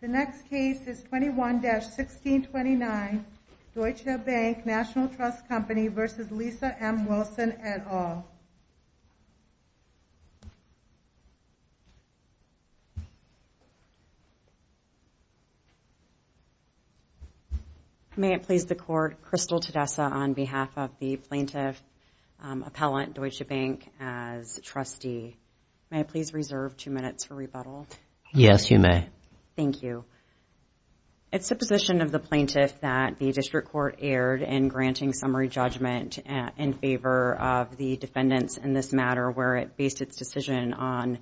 The next case is 21-1629 Deutsche Bank National Trust Company v. Lisa M. Wilson et al. May it please the court, Crystal Tedessa on behalf of the plaintiff appellant Deutsche Bank as trustee. May I please reserve two minutes for rebuttal? Yes, you may. Thank you. It's the position of the plaintiff that the district court erred in granting summary judgment in favor of the defendants in this matter, where it based its decision on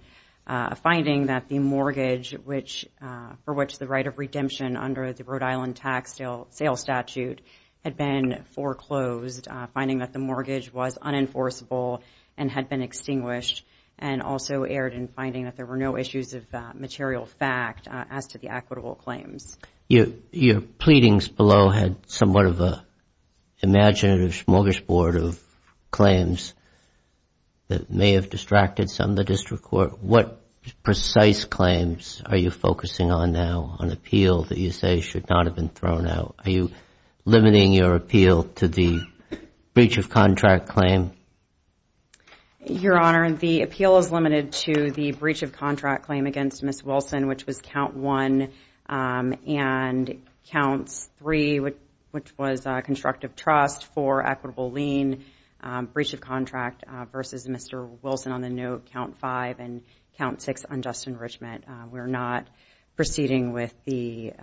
finding that the mortgage for which the right of redemption under the Rhode Island tax sale statute had been foreclosed, finding that the mortgage was unenforceable and had been extinguished, and also erred in finding that there were no issues of material fact as to the equitable claims. Your pleadings below had somewhat of an imaginative smorgasbord of claims that may have distracted some of the district court. What precise claims are you focusing on now on appeal that you say should not have been thrown out? Are you limiting your appeal to the breach of contract claim? Your Honor, the appeal is limited to the breach of contract claim against Ms. Wilson, which was count one, and counts three, which was constructive trust, four, equitable lien, breach of contract, versus Mr. Wilson on the note, count five, and count six, unjust enrichment. We're not proceeding with the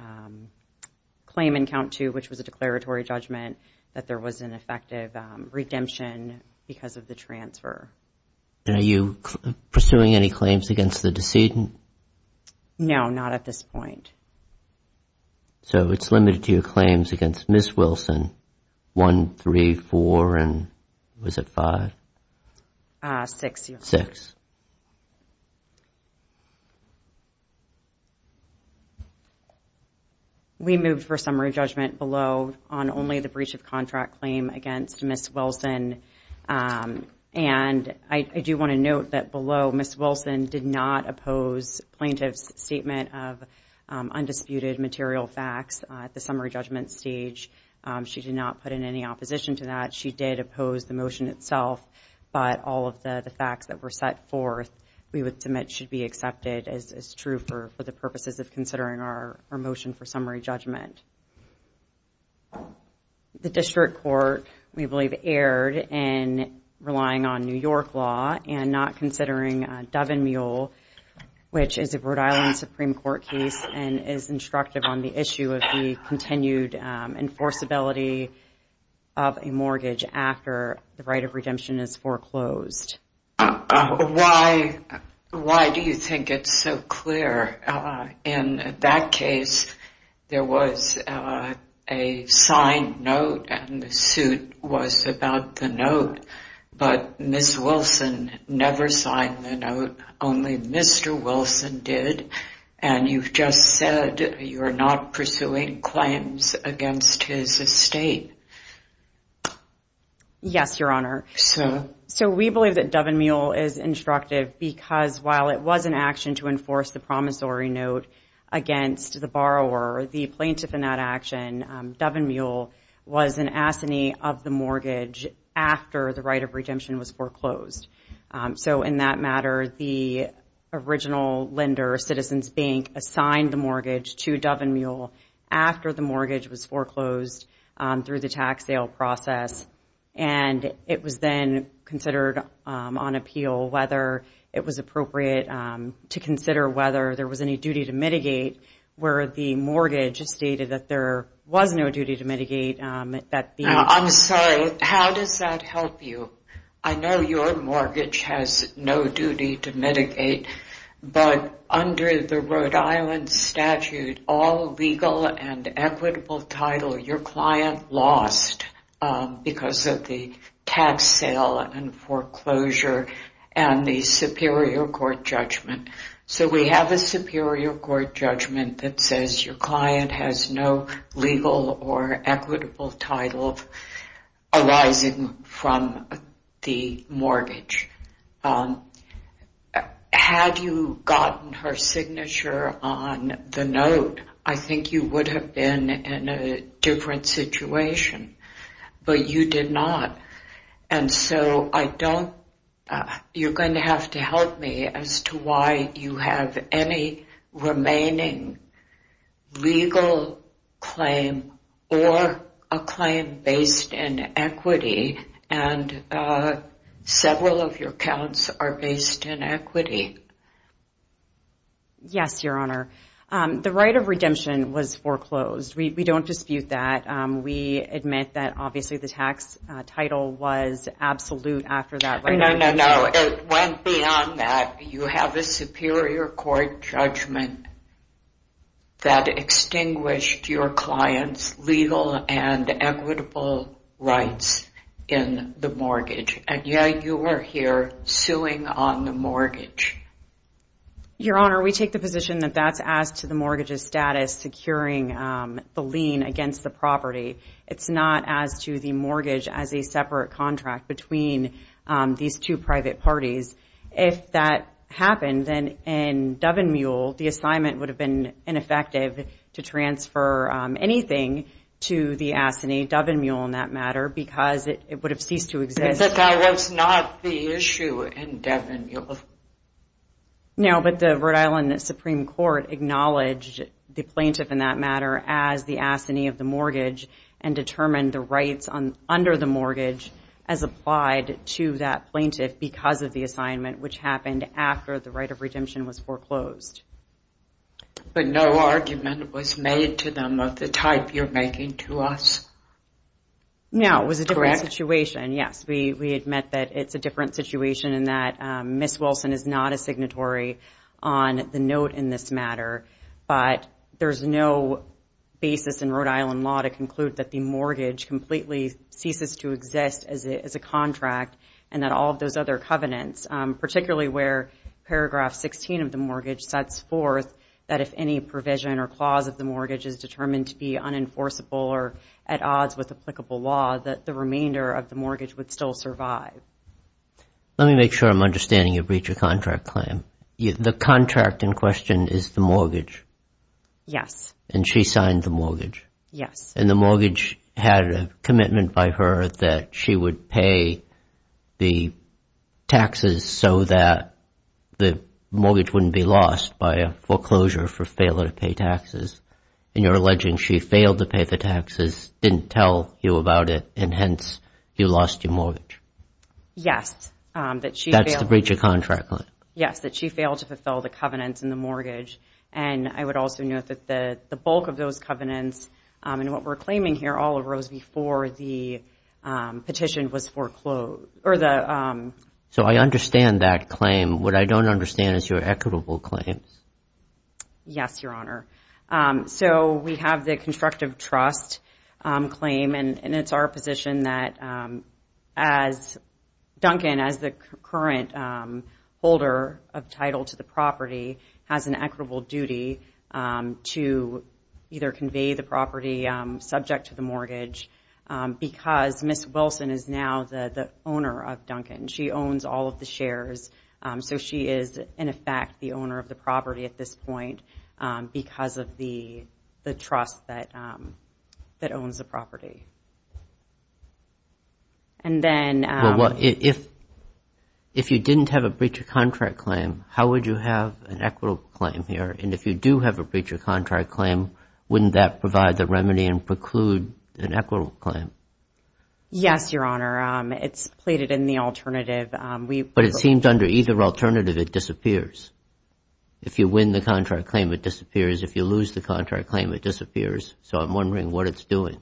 claim in count two, which was a declaratory judgment, that there was an effective redemption because of the transfer. Are you pursuing any claims against the decedent? No, not at this point. So it's limited to your claims against Ms. Wilson, one, three, four, and was it five? Six, Your Honor. Thank you. We moved for summary judgment below on only the breach of contract claim against Ms. Wilson, and I do want to note that below Ms. Wilson did not oppose plaintiff's statement of undisputed material facts at the summary judgment stage. She did not put in any opposition to that. She did oppose the motion itself, but all of the facts that were set forth we would submit should be accepted as true for the purposes of considering our motion for summary judgment. The District Court, we believe, erred in relying on New York law and not considering Doven Mule, which is a Rhode Island Supreme Court case and is instructive on the issue of the continued enforceability of a mortgage after the right of redemption is foreclosed. Why do you think it's so clear? In that case, there was a signed note and the suit was about the note, but Ms. Wilson never signed the note. Only Mr. Wilson did, and you've just said you're not pursuing claims against his estate. Yes, Your Honor. So? So we believe that Doven Mule is instructive because while it was an action to enforce the promissory note against the borrower, the plaintiff in that action, Doven Mule, was an assignee of the mortgage after the right of redemption was foreclosed. So in that matter, the original lender, Citizens Bank, assigned the mortgage to Doven Mule after the mortgage was foreclosed through the tax sale process, and it was then considered on appeal whether it was appropriate to consider whether there was any duty to mitigate where the mortgage stated that there was no duty to mitigate. I'm sorry. How does that help you? I know your mortgage has no duty to mitigate, but under the Rhode Island statute, all legal and equitable title, your client lost because of the tax sale and foreclosure and the superior court judgment. So we have a superior court judgment that says your client has no legal or equitable title arising from the mortgage. Had you gotten her signature on the note, I think you would have been in a different situation, but you did not. And so you're going to have to help me as to why you have any remaining legal claim or a claim based in equity, and several of your counts are based in equity. Yes, Your Honor. The right of redemption was foreclosed. We don't dispute that. We admit that obviously the tax title was absolute after that right of redemption. No, no, no. It went beyond that. You have a superior court judgment that extinguished your client's legal and equitable rights in the mortgage, and yet you are here suing on the mortgage. Your Honor, we take the position that that's as to the mortgage's status securing the lien against the property. It's not as to the mortgage as a separate contract between these two private parties. If that happened, then in Dovenmule, the assignment would have been ineffective to transfer anything to the ASINI, Dovenmule in that matter, because it would have ceased to exist. And that that was not the issue in Dovenmule? No, but the Rhode Island Supreme Court acknowledged the plaintiff in that matter as the ASINI of the mortgage and determined the rights under the mortgage as applied to that plaintiff because of the assignment, which happened after the right of redemption was foreclosed. But no argument was made to them of the type you're making to us? No, it was a different situation. Yes, we admit that it's a different situation in that Ms. Wilson is not a signatory on the note in this matter, but there's no basis in Rhode Island law to conclude that the mortgage completely ceases to exist as a contract and that all of those other covenants, particularly where paragraph 16 of the mortgage sets forth that if any provision or clause of the mortgage is determined to be unenforceable or at odds with applicable law, that the remainder of the mortgage would still survive. Let me make sure I'm understanding your breach of contract claim. The contract in question is the mortgage? Yes. And she signed the mortgage? Yes. And the mortgage had a commitment by her that she would pay the taxes so that the mortgage wouldn't be lost by a foreclosure for failure to pay taxes. And you're alleging she failed to pay the taxes, didn't tell you about it, and hence you lost your mortgage? Yes. That's the breach of contract claim? Yes, that she failed to fulfill the covenants in the mortgage. And I would also note that the bulk of those covenants and what we're claiming here all arose before the petition was foreclosed. So I understand that claim. What I don't understand is your equitable claims. Yes, Your Honor. So we have the constructive trust claim, and it's our position that as Duncan, as the current holder of title to the property, has an equitable duty to either convey the property subject to the mortgage because Ms. Wilson is now the owner of Duncan. She owns all of the shares. So she is, in effect, the owner of the property at this point because of the trust that owns the property. And then – Well, if you didn't have a breach of contract claim, how would you have an equitable claim here? And if you do have a breach of contract claim, wouldn't that provide the remedy and preclude an equitable claim? Yes, Your Honor. It's plated in the alternative. But it seems under either alternative it disappears. If you win the contract claim, it disappears. If you lose the contract claim, it disappears. So I'm wondering what it's doing.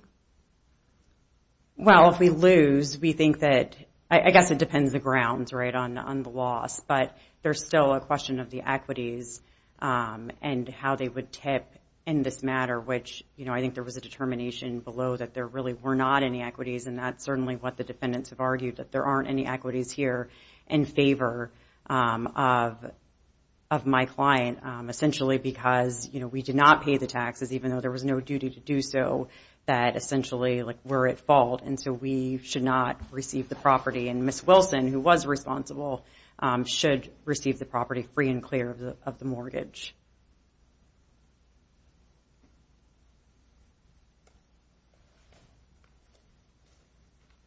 Well, if we lose, we think that – I guess it depends on the grounds, right, on the loss. But there's still a question of the equities and how they would tip in this matter, which I think there was a determination below that there really were not any equities, and that's certainly what the defendants have argued, that there aren't any equities here in favor of my client, essentially because, you know, we did not pay the taxes, even though there was no duty to do so, that essentially, like, we're at fault. And so we should not receive the property. And Ms. Wilson, who was responsible, should receive the property free and clear of the mortgage.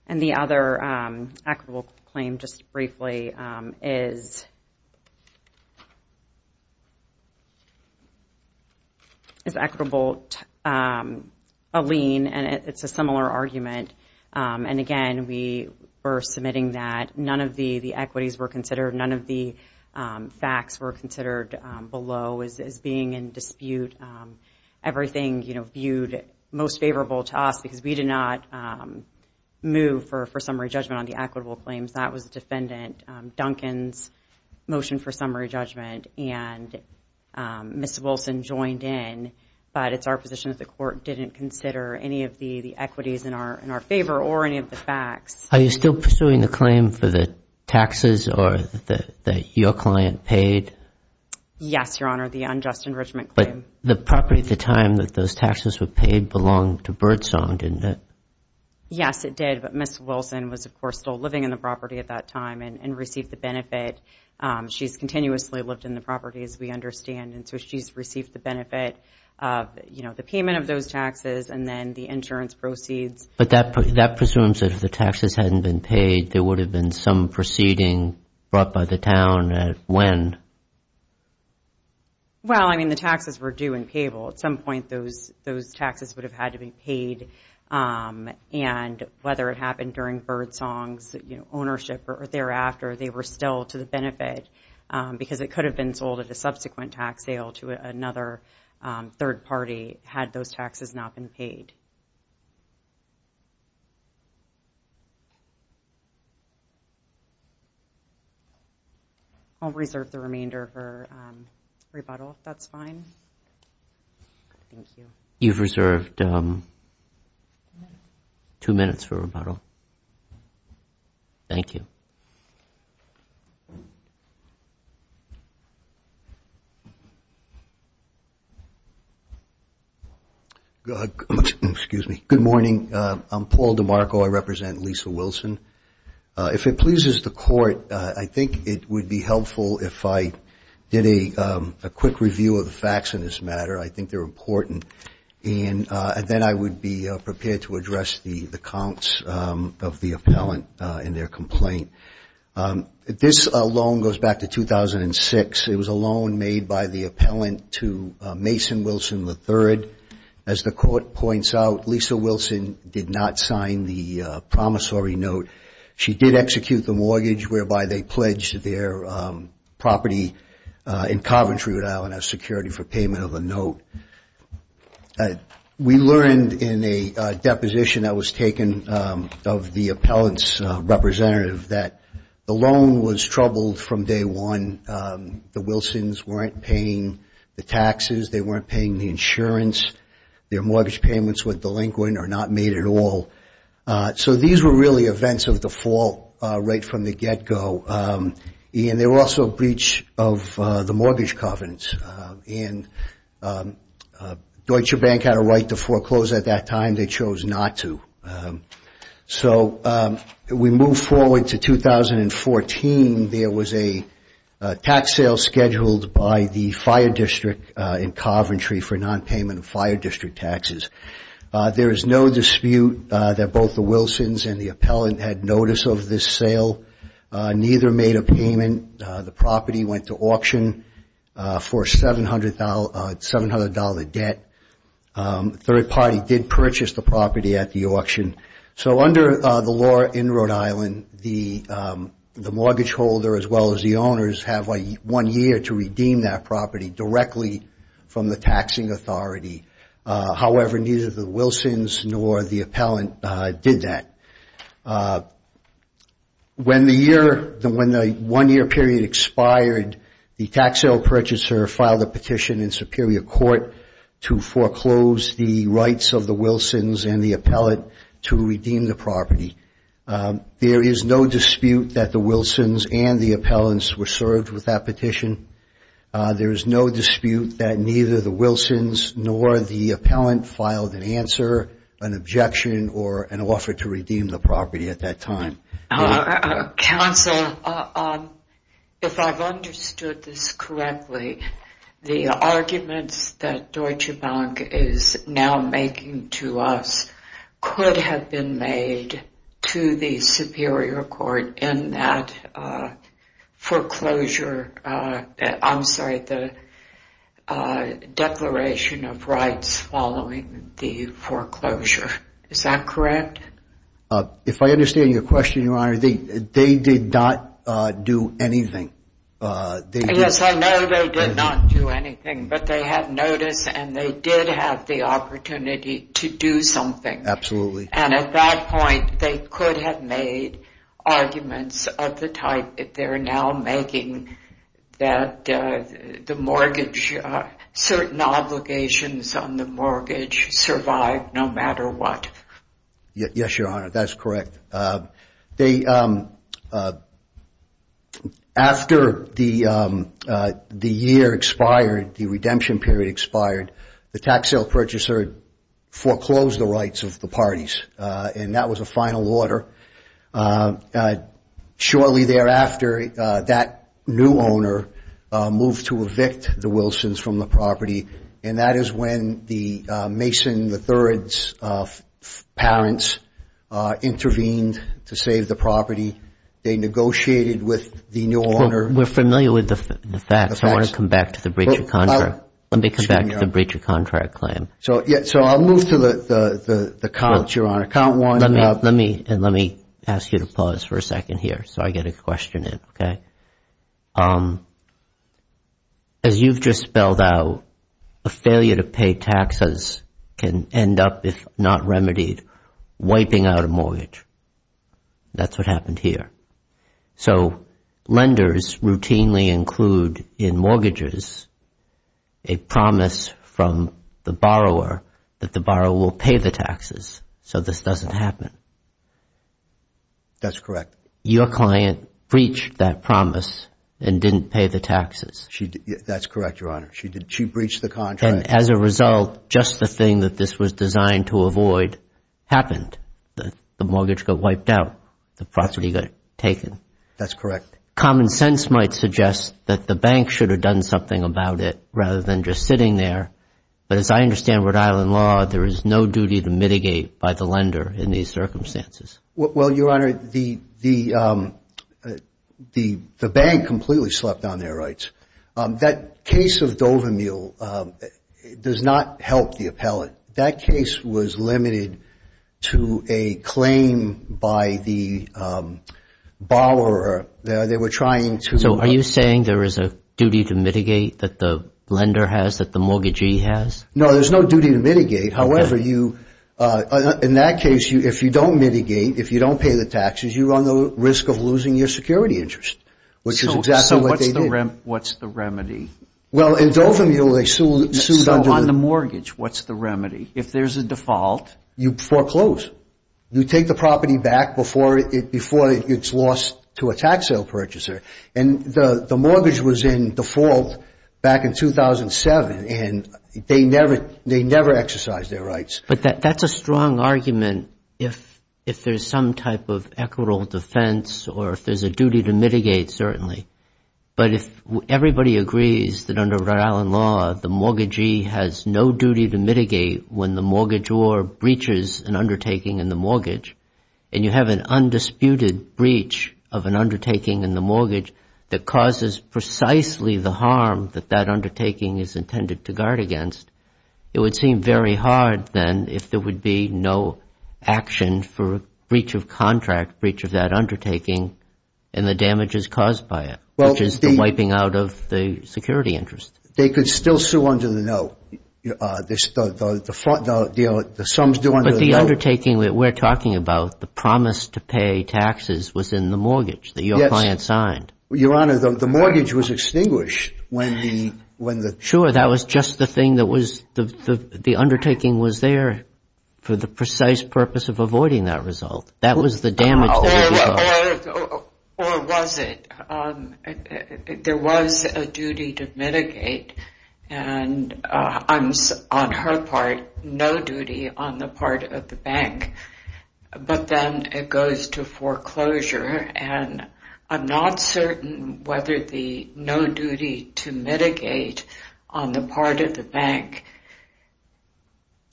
And the other equitable claim, just briefly, is equitable to a lien, and it's a similar argument. And, again, we were submitting that none of the equities were considered, none of the facts were considered below as being in dispute. Everything, you know, viewed most favorable to us because we did not move for summary judgment on the equitable claims. That was Defendant Duncan's motion for summary judgment, and Ms. Wilson joined in. But it's our position that the court didn't consider any of the equities in our favor or any of the facts. Are you still pursuing the claim for the taxes that your client paid? Yes, Your Honor, the unjust enrichment claim. But the property at the time that those taxes were paid belonged to Birdsong, didn't it? Yes, it did. But Ms. Wilson was, of course, still living in the property at that time and received the benefit. She's continuously lived in the property, as we understand, and so she's received the benefit of, you know, the payment of those taxes and then the insurance proceeds. But that presumes that if the taxes hadn't been paid, there would have been some proceeding brought by the town at when? Well, I mean, the taxes were due and payable. At some point, those taxes would have had to be paid. And whether it happened during Birdsong's ownership or thereafter, they were still to the benefit because it could have been sold at a subsequent tax sale to another third party had those taxes not been paid. I'll reserve the remainder for rebuttal, if that's fine. Thank you. You've reserved two minutes for rebuttal. Thank you. Excuse me. Good morning. I'm Paul DeMarco. I represent Lisa Wilson. If it pleases the Court, I think it would be helpful if I did a quick review of the facts in this matter. I think they're important. And then I would be prepared to address the counts of the appellant in their complaint. This loan goes back to 2006. It was a loan made by the appellant to Mason Wilson III. As the Court points out, Lisa Wilson did not sign the promissory note. She did execute the mortgage whereby they pledged their property in Coventry, Rhode Island, as security for payment of the note. We learned in a deposition that was taken of the appellant's representative that the loan was troubled from day one. The Wilsons weren't paying the taxes. They weren't paying the insurance. Their mortgage payments were delinquent or not made at all. So these were really events of the fall right from the get-go. And they were also a breach of the mortgage covenants. And Deutsche Bank had a right to foreclose at that time. They chose not to. So we move forward to 2014. There was a tax sale scheduled by the fire district in Coventry for nonpayment of fire district taxes. There is no dispute that both the Wilsons and the appellant had notice of this sale. Neither made a payment. The property went to auction for a $700 debt. The third party did purchase the property at the auction. So under the law in Rhode Island, the mortgage holder as well as the owners have one year to redeem that property directly from the taxing authority. However, neither the Wilsons nor the appellant did that. When the one-year period expired, the tax sale purchaser filed a petition in Superior Court to foreclose the rights of the Wilsons and the appellant to redeem the property. There is no dispute that the Wilsons and the appellants were served with that petition. There is no dispute that neither the Wilsons nor the appellant filed an answer, an objection, or an offer to redeem the property at that time. Counsel, if I've understood this correctly, the arguments that Deutsche Bank is now making to us could have been made to the Superior Court in that foreclosure. I'm sorry, the declaration of rights following the foreclosure. Is that correct? If I understand your question, Your Honor, they did not do anything. Yes, I know they did not do anything. But they had notice and they did have the opportunity to do something. Absolutely. And at that point, they could have made arguments of the type that they're now making that certain obligations on the mortgage survive no matter what. Yes, Your Honor, that's correct. After the year expired, the redemption period expired, the tax sale purchaser foreclosed the rights of the parties, and that was a final order. Shortly thereafter, that new owner moved to evict the Wilsons from the property, and that is when the Mason III's parents intervened to save the property. They negotiated with the new owner. We're familiar with the facts. I want to come back to the breach of contract. Let me come back to the breach of contract claim. So I'll move to the count, Your Honor. Count one. And let me ask you to pause for a second here so I get a question in, okay? As you've just spelled out, a failure to pay taxes can end up, if not remedied, wiping out a mortgage. That's what happened here. So lenders routinely include in mortgages a promise from the borrower that the borrower will pay the taxes so this doesn't happen. That's correct. Your client breached that promise and didn't pay the taxes. That's correct, Your Honor. She breached the contract. And as a result, just the thing that this was designed to avoid happened. The mortgage got wiped out. The property got taken. That's correct. Common sense might suggest that the bank should have done something about it rather than just sitting there, but as I understand Rhode Island law, there is no duty to mitigate by the lender in these circumstances. Well, Your Honor, the bank completely slept on their rights. That case of Dover Mule does not help the appellate. That case was limited to a claim by the borrower. They were trying to – So are you saying there is a duty to mitigate that the lender has, that the mortgagee has? No, there's no duty to mitigate. However, in that case, if you don't mitigate, if you don't pay the taxes, you run the risk of losing your security interest, which is exactly what they did. So what's the remedy? Well, in Dover Mule they sued under the – So on the mortgage, what's the remedy? If there's a default – You foreclose. You take the property back before it gets lost to a tax sale purchaser. And the mortgage was in default back in 2007, and they never exercised their rights. But that's a strong argument if there's some type of equitable defense or if there's a duty to mitigate, certainly. But if everybody agrees that under Rhode Island law, the mortgagee has no duty to mitigate when the mortgagor breaches an undertaking in the mortgage and you have an undisputed breach of an undertaking in the mortgage that causes precisely the harm that that undertaking is intended to guard against, it would seem very hard then if there would be no action for breach of contract, breach of that undertaking, and the damages caused by it, which is the wiping out of the security interest. They could still sue under the note. The sums due under the note – But the undertaking that we're talking about, the promise to pay taxes was in the mortgage that your client signed. Your Honor, the mortgage was extinguished when the – Sure, that was just the thing that was – the undertaking was there for the precise purpose of avoiding that result. That was the damage that it caused. Or was it? There was a duty to mitigate, and on her part, no duty on the part of the bank. But then it goes to foreclosure, and I'm not certain whether the no duty to mitigate on the part of the bank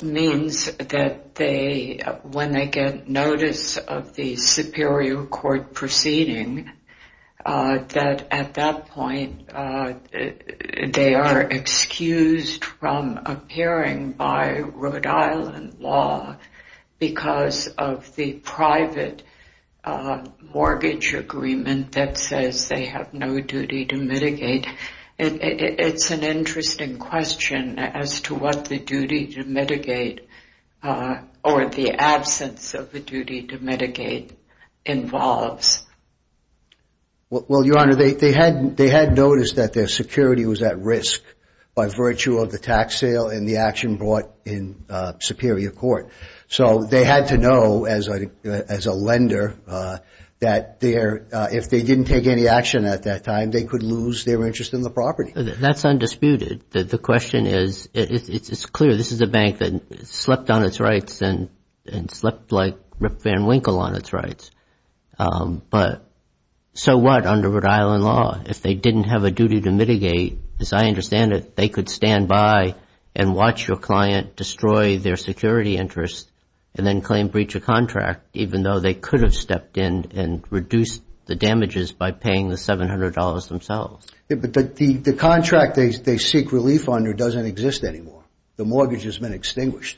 means that when they get notice of the superior court proceeding, that at that point they are excused from appearing by Rhode Island law because of the private mortgage agreement that says they have no duty to mitigate. It's an interesting question as to what the duty to mitigate or the absence of the duty to mitigate involves. Well, Your Honor, they had noticed that their security was at risk by virtue of the tax sale and the action brought in superior court. So they had to know as a lender that if they didn't take any action at that time, they could lose their interest in the property. That's undisputed. The question is, it's clear this is a bank that slept on its rights and slept like Rip Van Winkle on its rights. But so what under Rhode Island law? If they didn't have a duty to mitigate, as I understand it, they could stand by and watch your client destroy their security interest and then claim breach of contract, even though they could have stepped in and reduced the damages by paying the $700 themselves. But the contract they seek relief under doesn't exist anymore. The mortgage has been extinguished.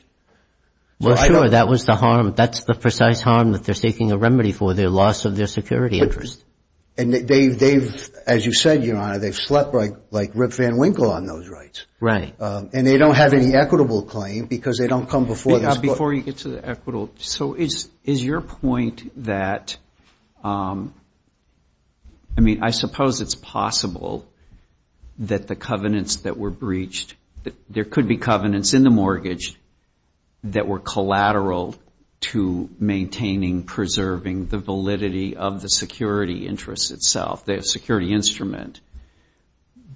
Well, sure. That was the harm. That's the precise harm that they're seeking a remedy for, their loss of their security interest. And they've, as you said, Your Honor, they've slept like Rip Van Winkle on those rights. Right. And they don't have any equitable claim because they don't come before this court. Before you get to the equitable, so is your point that, I mean, I suppose it's possible that the covenants that were breached, there could be covenants in the mortgage that were collateral to maintaining, preserving the validity of the security interest itself, the security instrument.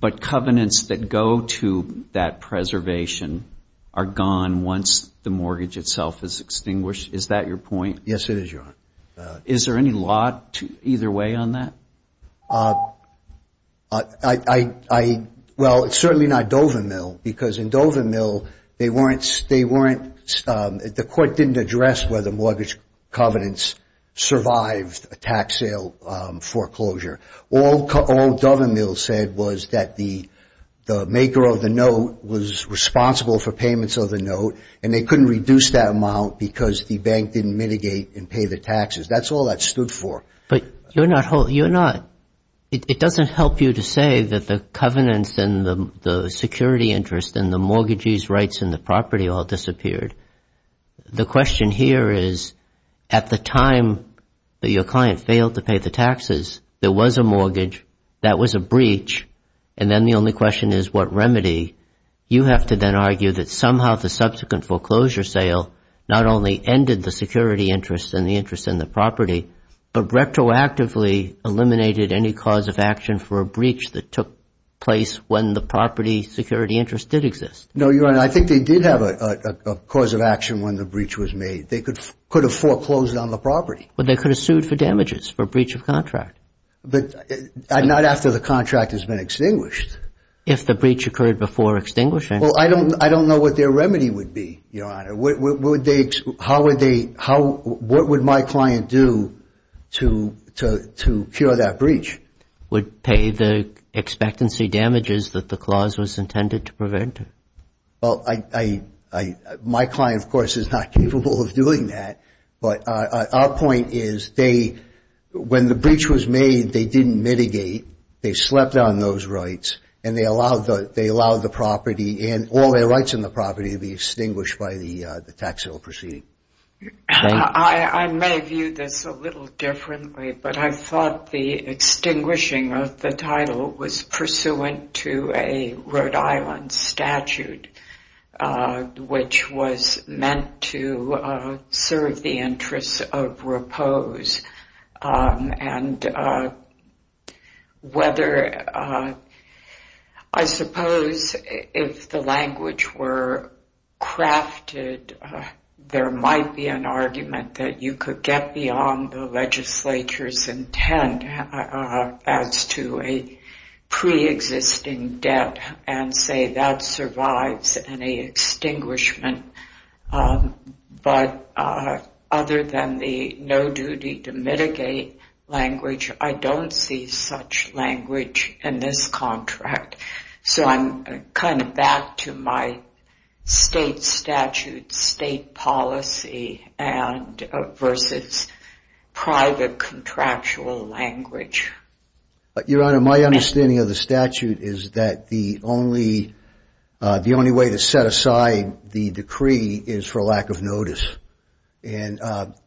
But covenants that go to that preservation are gone once the mortgage itself is extinguished. Is that your point? Yes, it is, Your Honor. Is there any law either way on that? Well, it's certainly not Dover Mill because in Dover Mill they weren't, the court didn't address whether mortgage covenants survived a tax sale foreclosure. All Dover Mill said was that the maker of the note was responsible for payments of the note and they couldn't reduce that amount because the bank didn't mitigate and pay the taxes. That's all that stood for. But you're not, it doesn't help you to say that the covenants and the security interest and the mortgagee's rights and the property all disappeared. The question here is at the time that your client failed to pay the taxes, there was a mortgage, that was a breach, and then the only question is what remedy. You have to then argue that somehow the subsequent foreclosure sale not only ended the security interest and the interest in the property, but retroactively eliminated any cause of action for a breach that took place when the property security interest did exist. No, Your Honor, I think they did have a cause of action when the breach was made. They could have foreclosed on the property. But they could have sued for damages, for breach of contract. But not after the contract has been extinguished. If the breach occurred before extinguishing? Well, I don't know what their remedy would be, Your Honor. How would they, what would my client do to cure that breach? Would pay the expectancy damages that the clause was intended to prevent. Well, my client, of course, is not capable of doing that. But our point is they, when the breach was made, they didn't mitigate. They slept on those rights, and they allowed the property and all their rights in the property to be extinguished by the tax bill proceeding. I may view this a little differently, but I thought the extinguishing of the title was pursuant to a Rhode Island statute, which was meant to serve the interests of Repose. And whether, I suppose if the language were crafted, there might be an argument that you could get beyond the legislature's intent as to a preexisting debt and say that survives any extinguishment. But other than the no duty to mitigate language, I don't see such language in this contract. So I'm kind of back to my state statute, state policy versus private contractual language. Your Honor, my understanding of the statute is that the only way to set aside the decree is for lack of notice. And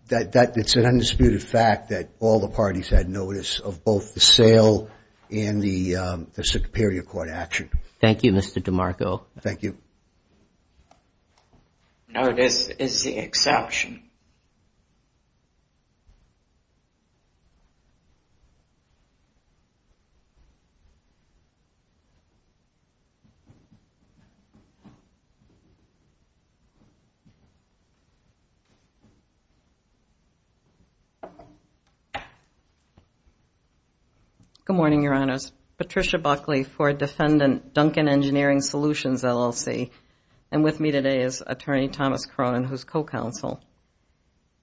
it's an undisputed fact that all the parties had notice of both the sale and the Superior Court action. Thank you, Mr. DeMarco. Thank you. Notice is the exception. Good morning, Your Honors. My name is Patricia Buckley for Defendant Duncan Engineering Solutions, LLC. And with me today is Attorney Thomas Cronin, who's co-counsel.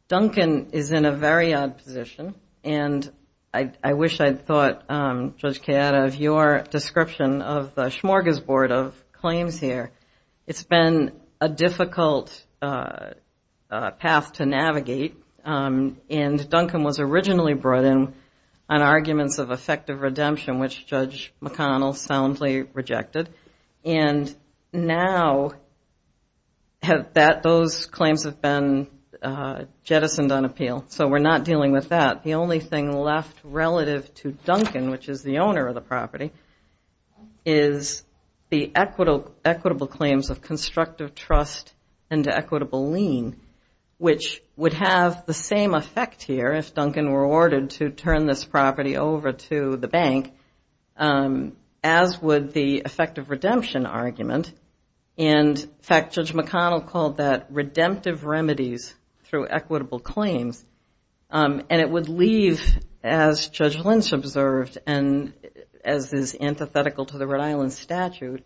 Duncan is in a very odd position, and I wish I'd thought, Judge Chiara, of your description of the smorgasbord of claims here. It's been a difficult path to navigate, and Duncan was originally brought in on arguments of effective redemption, which Judge McConnell soundly rejected. And now those claims have been jettisoned on appeal, so we're not dealing with that. The only thing left relative to Duncan, which is the owner of the property, is the equitable claims of constructive trust and equitable lien, which would have the same effect here if Duncan were ordered to turn this property over to the bank, as would the effective redemption argument. And, in fact, Judge McConnell called that redemptive remedies through equitable claims. And it would leave, as Judge Lynch observed, and as is antithetical to the Rhode Island statute,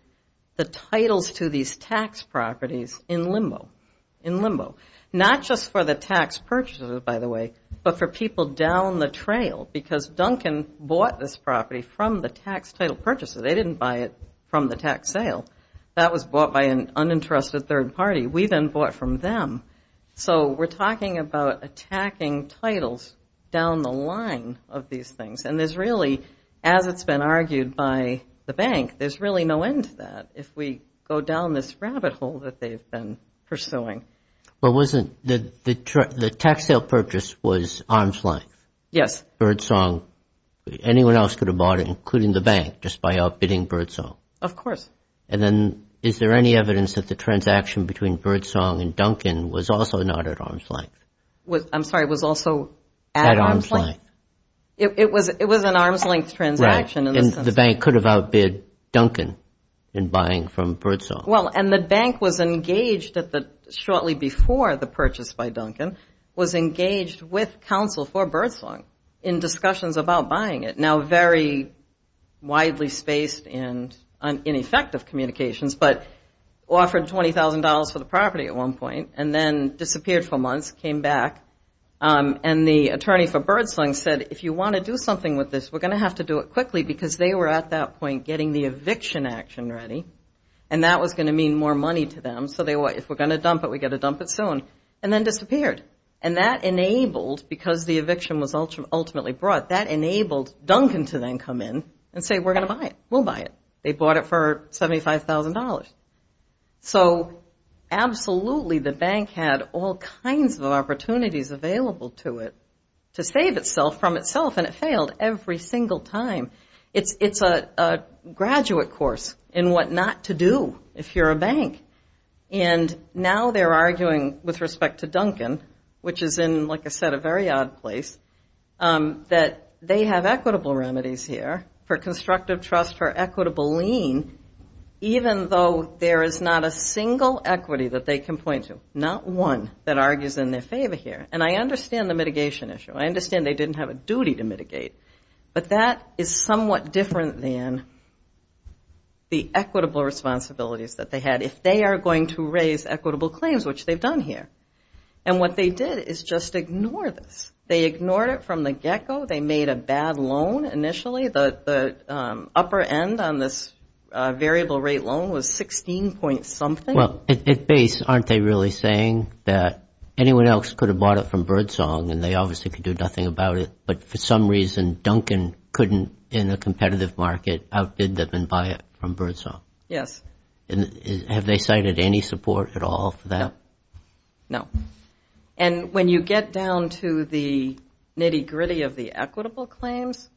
the titles to these tax properties in limbo. Not just for the tax purchasers, by the way, but for people down the trail, because Duncan bought this property from the tax title purchasers. They didn't buy it from the tax sale. That was bought by an uninterested third party. We then bought from them. So we're talking about attacking titles down the line of these things. And there's really, as it's been argued by the bank, there's really no end to that if we go down this rabbit hole that they've been pursuing. But wasn't the tax sale purchase was arm's length? Yes. Birdsong, anyone else could have bought it, including the bank, just by outbidding Birdsong? Of course. And then is there any evidence that the transaction between Birdsong and Duncan was also not at arm's length? I'm sorry, was also at arm's length? Why? It was an arm's length transaction. Right. And the bank could have outbid Duncan in buying from Birdsong. Well, and the bank was engaged shortly before the purchase by Duncan, was engaged with counsel for Birdsong in discussions about buying it, now very widely spaced and ineffective communications, but offered $20,000 for the property at one point and then disappeared for months, came back, and the attorney for Birdsong said, if you want to do something with this, we're going to have to do it quickly because they were at that point getting the eviction action ready and that was going to mean more money to them, so if we're going to dump it, we've got to dump it soon, and then disappeared. And that enabled, because the eviction was ultimately brought, that enabled Duncan to then come in and say, we're going to buy it, we'll buy it. They bought it for $75,000. So absolutely the bank had all kinds of opportunities available to it to save itself from itself and it failed every single time. It's a graduate course in what not to do if you're a bank. And now they're arguing with respect to Duncan, which is in, like I said, a very odd place, that they have equitable remedies here for constructive trust, for equitable lien, even though there is not a single equity that they can point to. Not one that argues in their favor here. And I understand the mitigation issue. I understand they didn't have a duty to mitigate, but that is somewhat different than the equitable responsibilities that they had if they are going to raise equitable claims, which they've done here. And what they did is just ignore this. They ignored it from the get-go. They made a bad loan initially. The upper end on this variable rate loan was 16-point-something. Well, at base, aren't they really saying that anyone else could have bought it from Birdsong and they obviously could do nothing about it, but for some reason, Duncan couldn't, in a competitive market, outbid them and buy it from Birdsong? Yes. Have they cited any support at all for that? No. And when you get down to the nitty-gritty of the equitable claims,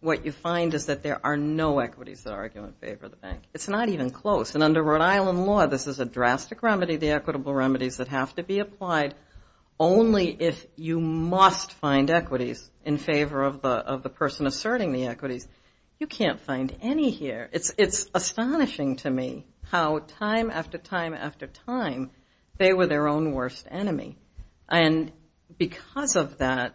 what you find is that there are no equities that argue in favor of the bank. It's not even close. And under Rhode Island law, this is a drastic remedy, the equitable remedies that have to be applied, only if you must find equities in favor of the person asserting the equities. You can't find any here. It's astonishing to me how time after time after time they were their own worst enemy. And because of that,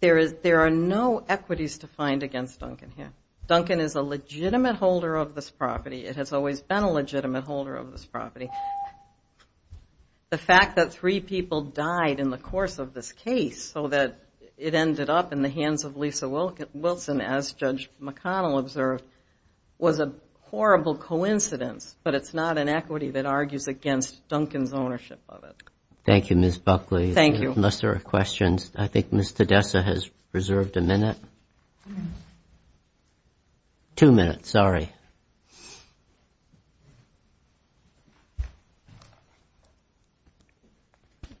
there are no equities to find against Duncan here. Duncan is a legitimate holder of this property. It has always been a legitimate holder of this property. The fact that three people died in the course of this case so that it ended up in the hands of Lisa Wilson, as Judge McConnell observed, was a horrible coincidence, but it's not an equity that argues against Duncan's ownership of it. Thank you, Ms. Buckley. Thank you. Unless there are questions, I think Ms. Tedessa has reserved a minute. Two minutes, sorry.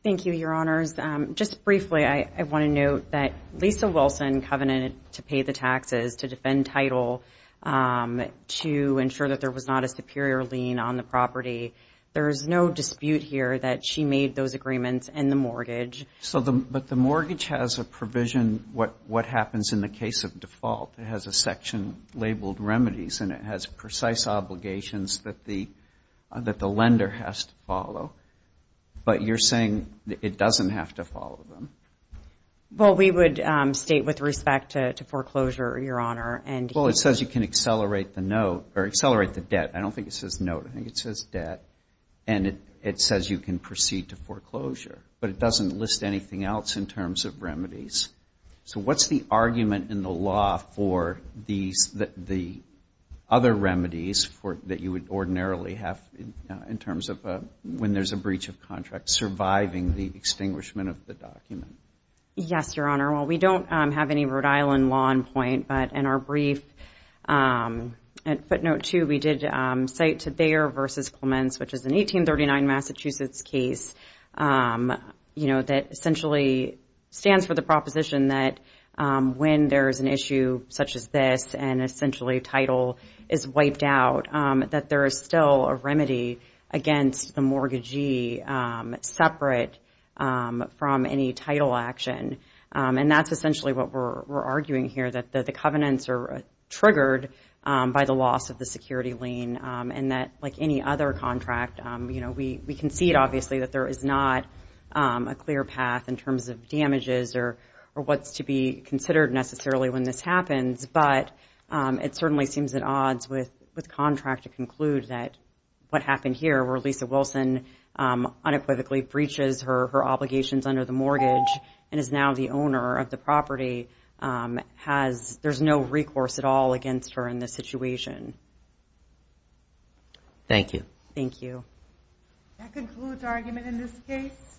Thank you, Your Honors. Just briefly, I want to note that Lisa Wilson covenanted to pay the taxes to defend title to ensure that there was not a superior lien on the property. There is no dispute here that she made those agreements in the mortgage. But the mortgage has a provision, what happens in the case of default. It has a section labeled remedies, and it has precise obligations that the lender has to follow. But you're saying it doesn't have to follow them. Well, we would state with respect to foreclosure, Your Honor. Well, it says you can accelerate the debt. I don't think it says note. I think it says debt. And it says you can proceed to foreclosure. But it doesn't list anything else in terms of remedies. So what's the argument in the law for the other remedies that you would ordinarily have in terms of when there's a breach of contract, surviving the extinguishment of the document? Yes, Your Honor. Well, we don't have any Rhode Island law in point. But in our brief, at footnote two, we did cite to Bayer v. Clements, which is an 1839 Massachusetts case, you know, that essentially stands for the proposition that when there is an issue such as this and essentially title is wiped out, that there is still a remedy against the mortgagee separate from any title action. And that's essentially what we're arguing here, that the covenants are triggered by the loss of the security lien and that, like any other contract, you know, we concede, obviously, that there is not a clear path in terms of damages or what's to be considered necessarily when this happens. But it certainly seems at odds with contract to conclude that what happened here, where Lisa Wilson unequivocally breaches her obligations under the mortgage and is now the owner of the property, there's no recourse at all against her in this situation. Thank you. Thank you. That concludes argument in this case.